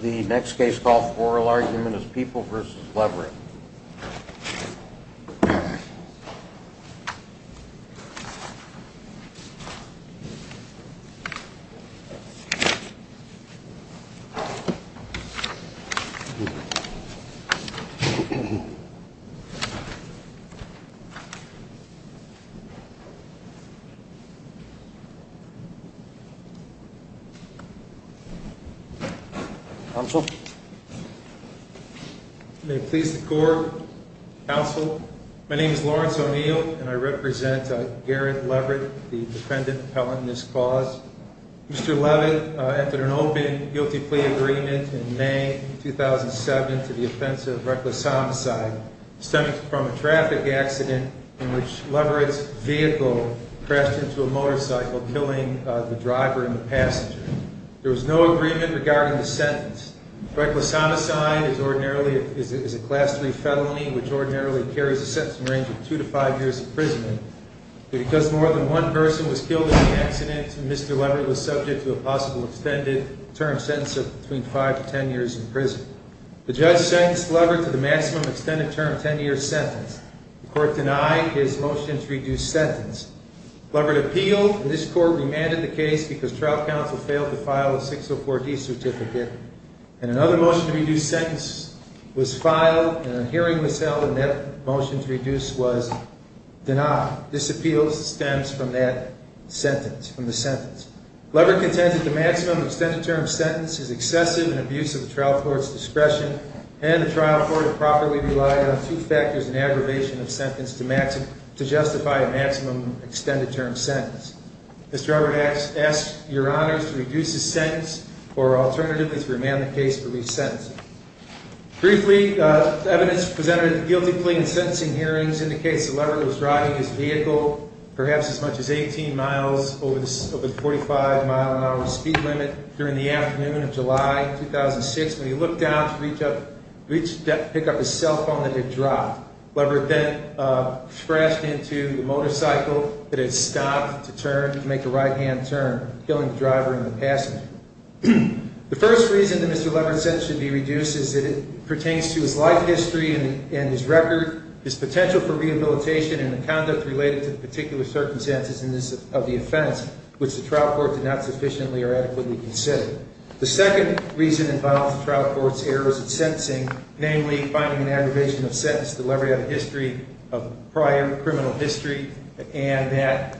The next case called Floral Argument is People v. Leverett Lawrence O'Neill The judge sentenced Leverett to the maximum extended term 10 years sentence. The court denied his motion to reduce sentence. Leverett appealed, and this court remanded the case because trial counsel failed to file a 604-d sentence. Another motion to reduce sentence was filed, and a hearing was held, and that motion to reduce was denied. This appeal stems from that sentence. Leverett contends that the maximum extended term sentence is excessive in abuse of the trial court's discretion, and the trial court improperly relied on two factors in aggravation of sentence to justify a maximum extended term sentence. Mr. Leverett asked Your Honors to reduce his sentence or, alternatively, to remand the case for resentencing. Briefly, evidence presented at the guilty plea and sentencing hearings indicates that Leverett was driving his vehicle perhaps as much as 18 miles over the 45 mile-an-hour speed limit during the afternoon of July 2006 when he looked down to pick up his cell phone that had dropped. Leverett then crashed into the motorcycle that had stopped to make a right-hand turn, killing the driver and the passenger. The first reason that Mr. Leverett's sentence should be reduced is that it pertains to his life history and his record, his potential for rehabilitation, and the conduct related to the particular circumstances of the offense, which the trial court did not sufficiently or adequately consider. The second reason involves the trial court's errors at sentencing, namely, finding an aggravation of sentence to Leverett of prior criminal history, and that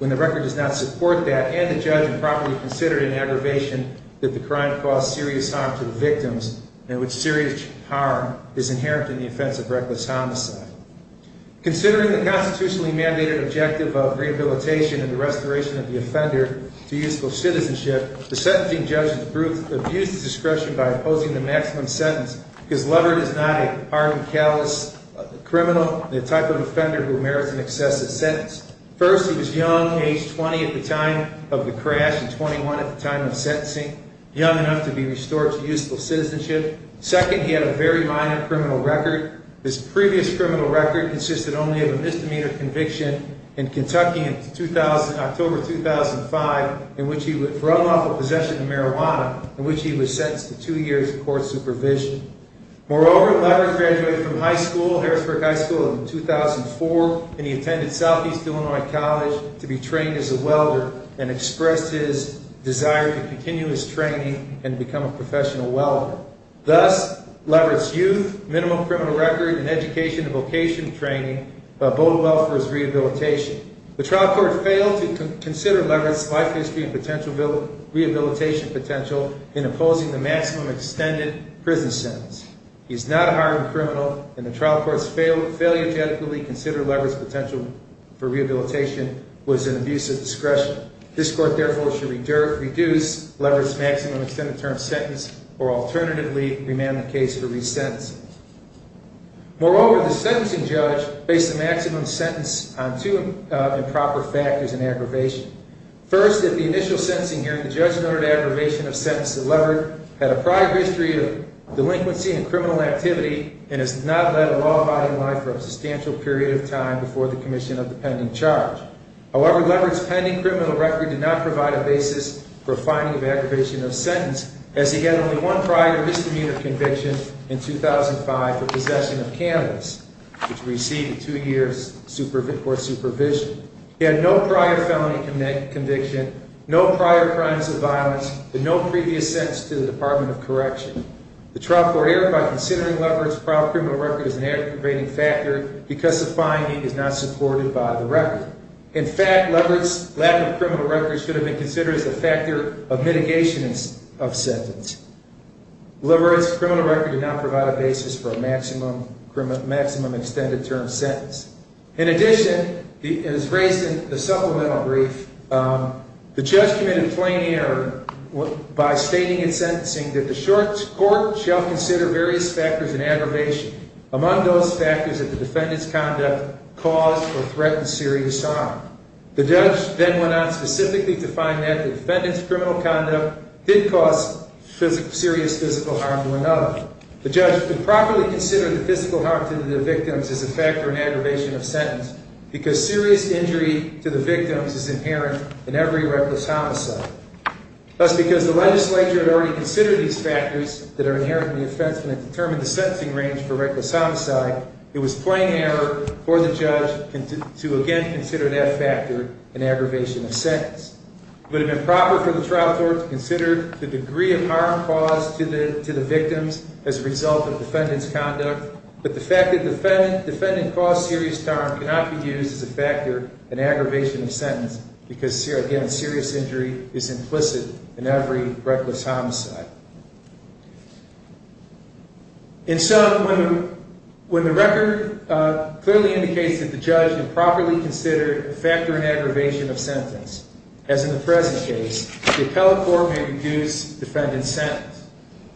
when the record does not support that and the judge improperly considered an aggravation, that the crime caused serious harm to the victims and which serious harm is inherent in the offense of reckless homicide. Considering the constitutionally mandated objective of rehabilitation and the restoration of the offender to useful citizenship, the sentencing judge abused discretion by opposing the maximum sentence because Leverett is not a harm and callous criminal, the type of offender who merits an excessive sentence. First, he was young, age 20 at the time of the crash and 21 at the time of sentencing, young enough to be restored to useful citizenship. Second, he had a very minor criminal record. His previous criminal record consisted only of a misdemeanor conviction in Kentucky in October 2005, for unlawful possession of marijuana, in which he was sentenced to two years of court supervision. Moreover, Leverett graduated from high school, Harrisburg High School, in 2004, and he attended Southeast Illinois College to be trained as a welder and expressed his desire to continue his training and become a professional welder. Thus, Leverett's youth, minimum criminal record, and education and vocation training bode well for his rehabilitation. The trial court failed to consider Leverett's life history and potential rehabilitation potential in opposing the maximum extended prison sentence. He is not a harm and criminal, and the trial court's failure to adequately consider Leverett's potential for rehabilitation was an abuse of discretion. This court, therefore, should reduce Leverett's maximum extended term sentence or, alternatively, remand the case for resentencing. Moreover, the sentencing judge based the maximum sentence on two improper factors and aggravation. First, at the initial sentencing hearing, the judge noted aggravation of sentence that Leverett had a prior history of delinquency and criminal activity and has not led a law-abiding life for a substantial period of time before the commission of the pending charge. However, Leverett's pending criminal record did not provide a basis for a finding of aggravation of sentence, as he had only one prior misdemeanor conviction in 2005 for possession of cannabis, which received two years' court supervision. He had no prior felony conviction, no prior crimes of violence, and no previous sentence to the Department of Correction. The trial court erred by considering Leverett's prior criminal record as an aggravating factor because the finding is not supported by the record. In fact, Leverett's lack of criminal record should have been considered as a factor of mitigation of sentence. Leverett's criminal record did not provide a basis for a maximum extended term sentence. In addition, as raised in the supplemental brief, the judge committed plain error by stating in sentencing that the short court shall consider various factors in aggravation, among those factors that the defendant's conduct caused or threatened serious harm. The judge then went on specifically to find that the defendant's criminal conduct did cause serious physical harm to another. The judge improperly considered the physical harm to the victims as a factor in aggravation of sentence because serious injury to the victims is inherent in every reckless homicide. Thus, because the legislature had already considered these factors that are inherent in the offense when it determined the sentencing range for reckless homicide, it was plain error for the judge to again consider that factor in aggravation of sentence. It would have been proper for the trial court to consider the degree of harm caused to the victims as a result of the defendant's conduct, but the fact that the defendant caused serious harm cannot be used as a factor in aggravation of sentence because, again, serious injury is implicit in every reckless homicide. And so when the record clearly indicates that the judge improperly considered the factor in aggravation of sentence, as in the present case, the appellate court may reduce defendant's sentence.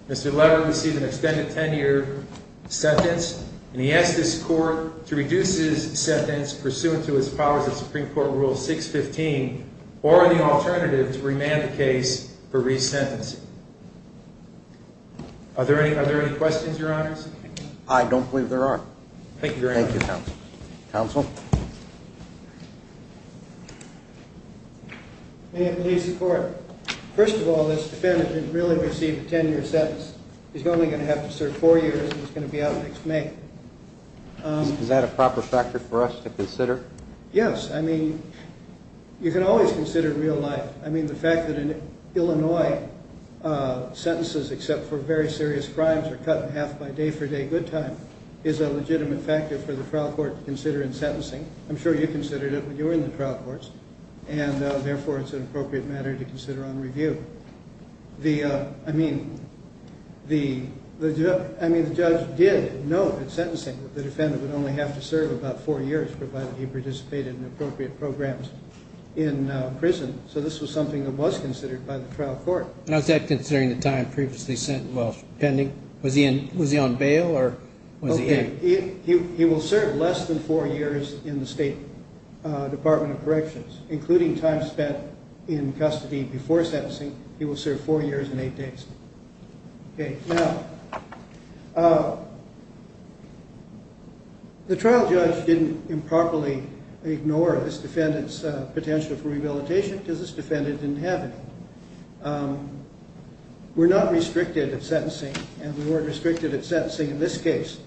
Mr. Lever received an extended 10-year sentence, and he asks this court to reduce his sentence pursuant to his powers of Supreme Court Rule 615 or the alternative to remand the case for resentencing. Are there any questions, Your Honors? I don't believe there are. Thank you very much. Thank you, counsel. Counsel? May it please the court. First of all, this defendant didn't really receive a 10-year sentence. He's only going to have to serve four years, and he's going to be out next May. Is that a proper factor for us to consider? Yes. I mean, you can always consider real life. I mean, the fact that in Illinois, sentences except for very serious crimes are cut in half by day-for-day good time is a legitimate factor for the trial court to consider in sentencing. I'm sure you considered it when you were in the trial courts, and therefore it's an appropriate matter to consider on review. I mean, the judge did note in sentencing that the defendant would only have to serve about four years provided he participated in appropriate programs in prison. So this was something that was considered by the trial court. And was that considering the time previously sent while pending? Was he on bail or was he in? Okay. He will serve less than four years in the State Department of Corrections, including time spent in custody before sentencing. He will serve four years and eight days. Okay. Now, the trial judge didn't improperly ignore this defendant's potential for rehabilitation because this defendant didn't have any. We're not restricted at sentencing, and we weren't restricted at sentencing in this case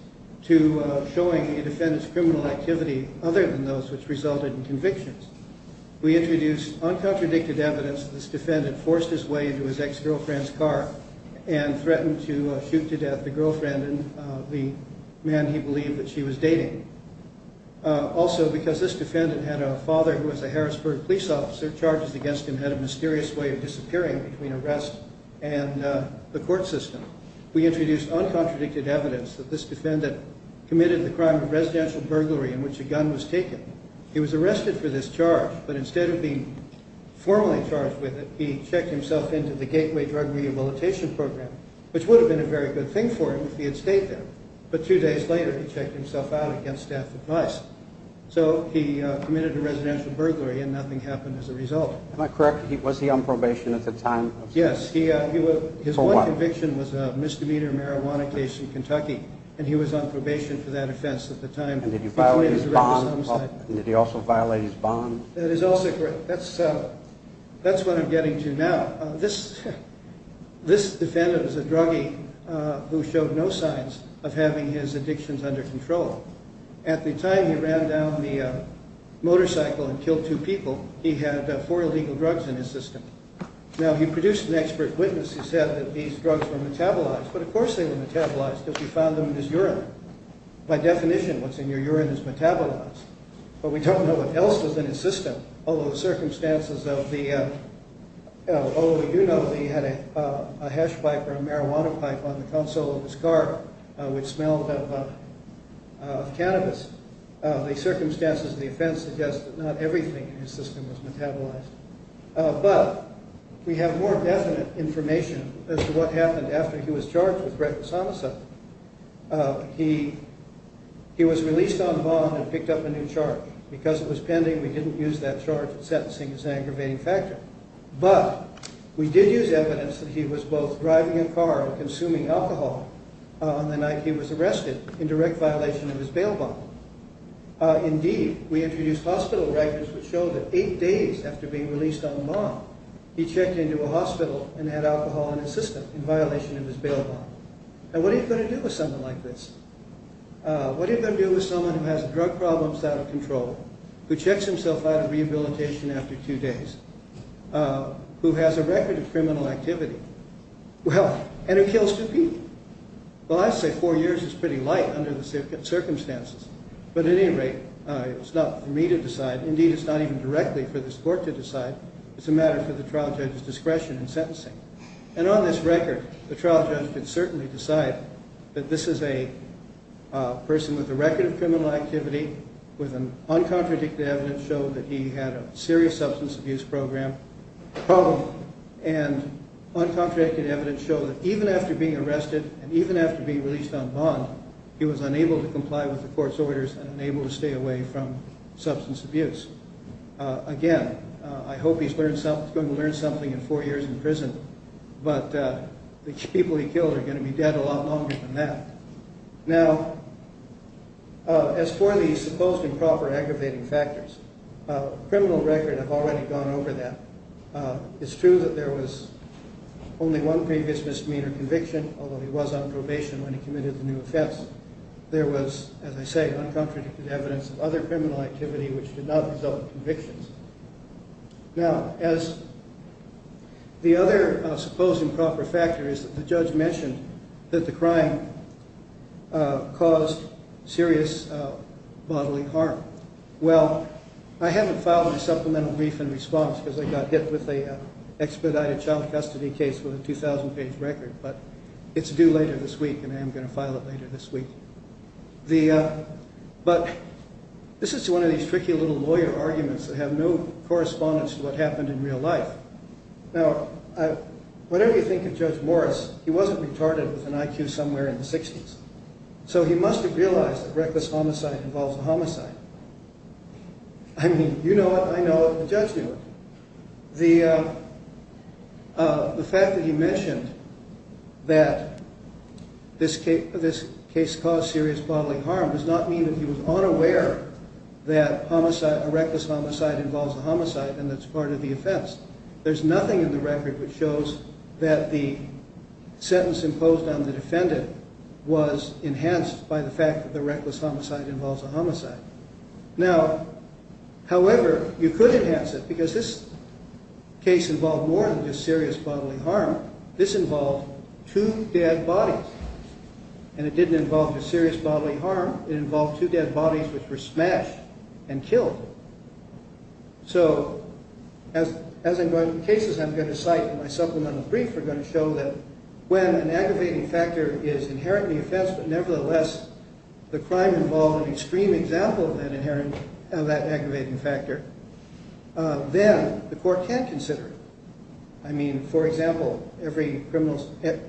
to showing a defendant's criminal activity other than those which resulted in convictions. We introduced uncontradicted evidence that this defendant forced his way into his ex-girlfriend's car and threatened to shoot to death the girlfriend and the man he believed that she was dating. Also, because this defendant had a father who was a Harrisburg police officer, charges against him had a mysterious way of disappearing between arrest and the court system. We introduced uncontradicted evidence that this defendant committed the crime of residential burglary in which a gun was taken. He was arrested for this charge, but instead of being formally charged with it, he checked himself into the Gateway Drug Rehabilitation Program, which would have been a very good thing for him if he had stayed there. But two days later, he checked himself out against staff advice. So he committed a residential burglary, and nothing happened as a result. Am I correct? Was he on probation at the time? Yes. For what? His one conviction was a misdemeanor marijuana case in Kentucky, and he was on probation for that offense at the time. And did he violate his bond? Did he also violate his bond? That is also correct. That's what I'm getting to now. This defendant is a druggie who showed no signs of having his addictions under control. At the time he ran down the motorcycle and killed two people, he had four illegal drugs in his system. Now, he produced an expert witness who said that these drugs were metabolized, but of course they were metabolized because he found them in his urine. By definition, what's in your urine is metabolized, but we don't know what else was in his system, although we do know that he had a hash pipe or a marijuana pipe on the console of his car which smelled of cannabis. The circumstances of the offense suggest that not everything in his system was metabolized. But we have more definite information as to what happened after he was charged with reckless homicide. He was released on bond and picked up a new charge. Because it was pending, we didn't use that charge in sentencing as an aggravating factor. But we did use evidence that he was both driving a car and consuming alcohol on the night he was arrested in direct violation of his bail bond. Indeed, we introduced hospital records which show that eight days after being released on bond, he checked into a hospital and had alcohol in his system in violation of his bail bond. Now, what are you going to do with someone like this? What are you going to do with someone who has drug problems out of control, who checks himself out of rehabilitation after two days, who has a record of criminal activity, and who kills two people? Well, I'd say four years is pretty light under the circumstances. But at any rate, it's not for me to decide. Indeed, it's not even directly for this court to decide. It's a matter for the trial judge's discretion in sentencing. And on this record, the trial judge could certainly decide that this is a person with a record of criminal activity, with uncontradicted evidence showing that he had a serious substance abuse problem, and uncontradicted evidence show that even after being arrested and even after being released on bond, he was unable to comply with the court's orders and unable to stay away from substance abuse. Again, I hope he's going to learn something in four years in prison, but the people he killed are going to be dead a lot longer than that. Now, as for the supposed improper aggravating factors, criminal records have already gone over that. It's true that there was only one previous misdemeanor conviction, although he was on probation when he committed the new offense. There was, as I say, uncontradicted evidence of other criminal activity which did not result in convictions. Now, as the other supposed improper factor is that the judge mentioned that the crime caused serious bodily harm. Well, I haven't filed a supplemental brief in response because I got hit with an expedited child custody case with a 2,000-page record, but it's due later this week and I am going to file it later this week. But this is one of these tricky little lawyer arguments that have no correspondence to what happened in real life. Now, whatever you think of Judge Morris, he wasn't retarded with an IQ somewhere in the 60s, so he must have realized that reckless homicide involves a homicide. I mean, you know it, I know it, the judge knew it. The fact that he mentioned that this case caused serious bodily harm does not mean that he was unaware that a reckless homicide involves a homicide and that it's part of the offense. There's nothing in the record which shows that the sentence imposed on the defendant was enhanced by the fact that the reckless homicide involves a homicide. Now, however, you could enhance it because this case involved more than just serious bodily harm. This involved two dead bodies, and it didn't involve just serious bodily harm. It involved two dead bodies which were smashed and killed. So, as I'm going through cases I'm going to cite in my supplemental brief, we're going to show that when an aggravating factor is inherently offense, but nevertheless the crime involved an extreme example of that aggravating factor, then the court can consider it. I mean, for example, every criminal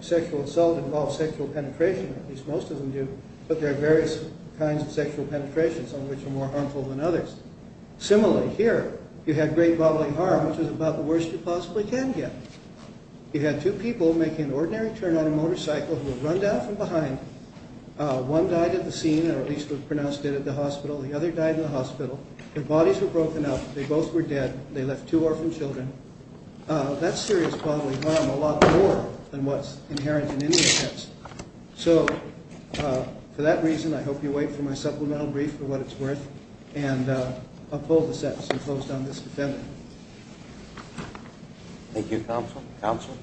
sexual assault involves sexual penetration, at least most of them do, but there are various kinds of sexual penetrations on which are more harmful than others. Similarly, here, you had great bodily harm, which is about the worst you possibly can get. You had two people making an ordinary turn on a motorcycle who had run down from behind. One died at the scene, or at least was pronounced dead at the hospital. The other died in the hospital. Their bodies were broken up. They both were dead. They left two orphaned children. That's serious bodily harm a lot more than what's inherent in any offense. So, for that reason, I hope you'll wait for my supplemental brief for what it's worth, and I'll pull the sentence and close down this defendant. Thank you, counsel. Counsel?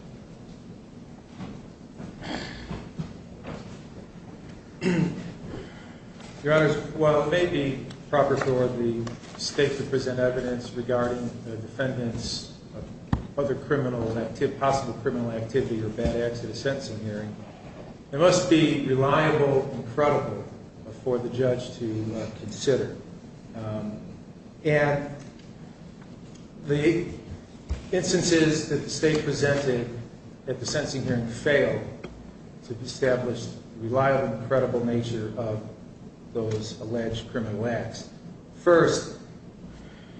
Your Honor, while it may be proper for the state to present evidence regarding the defendant's other criminal, possible criminal activity or bad acts at a sentencing hearing, it must be reliable and credible for the judge to consider. And the instances that the state presented at the sentencing hearing failed to establish the reliable and credible nature of those alleged criminal acts. First,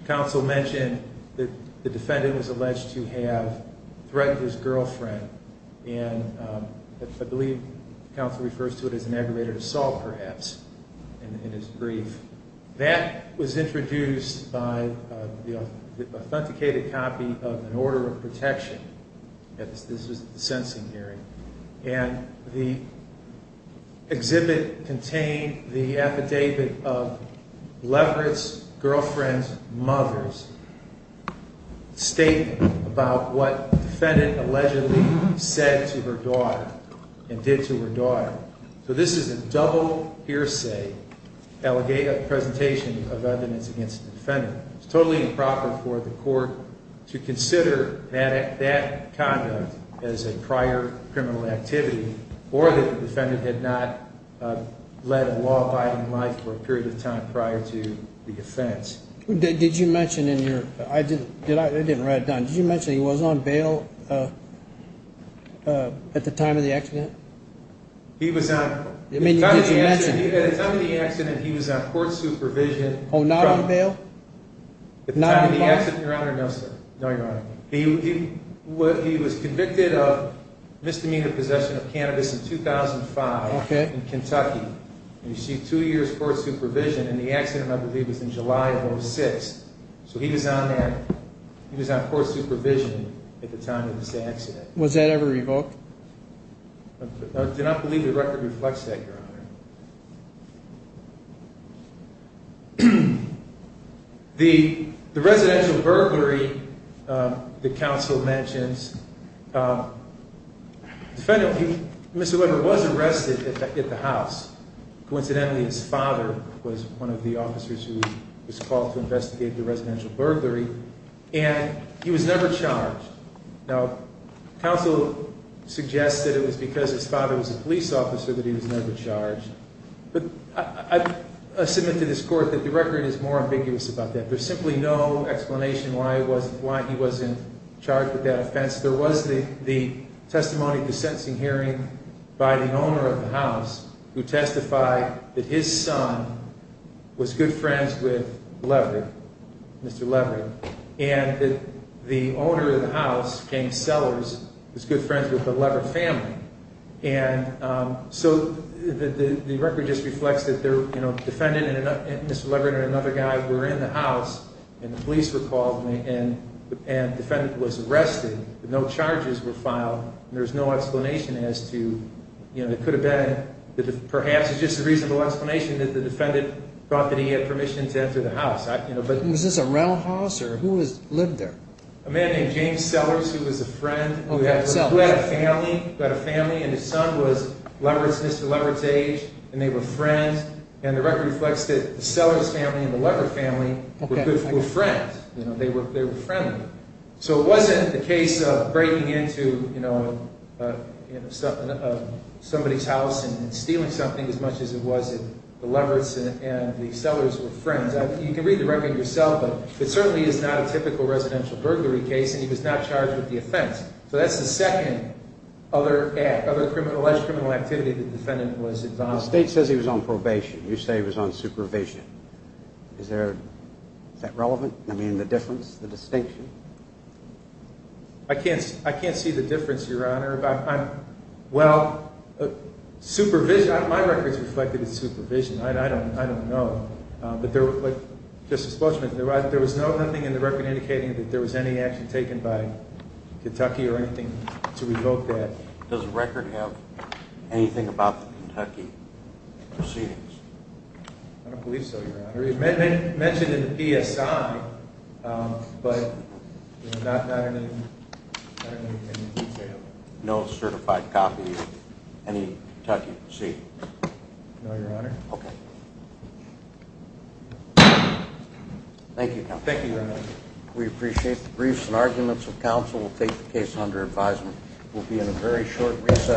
counsel mentioned that the defendant was alleged to have threatened his girlfriend, and I believe counsel refers to it as an aggravated assault, perhaps, in his brief. That was introduced by the authenticated copy of an order of protection at the sentencing hearing, and the exhibit contained the affidavit of Leverett's girlfriend's mother's statement about what the defendant allegedly said to her daughter and did to her daughter. So this is a double hearsay presentation of evidence against the defendant. It's totally improper for the court to consider that conduct as a prior criminal activity or that the defendant had not led a law-abiding life for a period of time prior to the offense. Did you mention in your – I didn't write it down. Did you mention he was on bail at the time of the accident? He was on – at the time of the accident, he was on court supervision. Oh, not on bail? At the time of the accident, Your Honor, no, sir. No, Your Honor. He was convicted of misdemeanor possession of cannabis in 2005 in Kentucky. He received two years court supervision, and the accident, I believe, was in July of 2006. So he was on that – he was on court supervision at the time of this accident. Was that ever revoked? I do not believe the record reflects that, Your Honor. The residential burglary that counsel mentions, the defendant, Mr. Weber, was arrested at the house. Coincidentally, his father was one of the officers who was called to investigate the residential burglary, and he was never charged. Now, counsel suggests that it was because his father was a police officer that he was never charged. But I submit to this court that the record is more ambiguous about that. There's simply no explanation why he wasn't charged with that offense. There was the testimony at the sentencing hearing by the owner of the house who testified that his son was good friends with Leverett, Mr. Leverett, and that the owner of the house, James Sellers, was good friends with the Leverett family. And so the record just reflects that the defendant and Mr. Leverett and another guy were in the house, and the police were called, and the defendant was arrested. No charges were filed, and there's no explanation as to – it could have been that perhaps it's just a reasonable explanation that the defendant thought that he had permission to enter the house. Was this a roundhouse, or who lived there? A man named James Sellers who was a friend. He had a family, and his son was Mr. Leverett's age, and they were friends. And the record reflects that the Sellers family and the Leverett family were friends. They were friendly. So it wasn't the case of breaking into somebody's house and stealing something as much as it was that the Leveretts and the Sellers were friends. You can read the record yourself, but it certainly is not a typical residential burglary case, and he was not charged with the offense. So that's the second other alleged criminal activity the defendant was involved in. The state says he was on probation. You say he was on supervision. Is that relevant? I mean, the difference, the distinction? I can't see the difference, Your Honor. Well, supervision – my record's reflected as supervision. I don't know. But there was nothing in the record indicating that there was any action taken by Kentucky or anything to revoke that. Does the record have anything about the Kentucky proceedings? I don't believe so, Your Honor. It's mentioned in the PSI, but not in any detail. No certified copy of any Kentucky proceedings? No, Your Honor. Okay. Thank you, counsel. Thank you, Your Honor. We appreciate the briefs and arguments of counsel. We'll take the case under advisement. We'll be in a very short recess.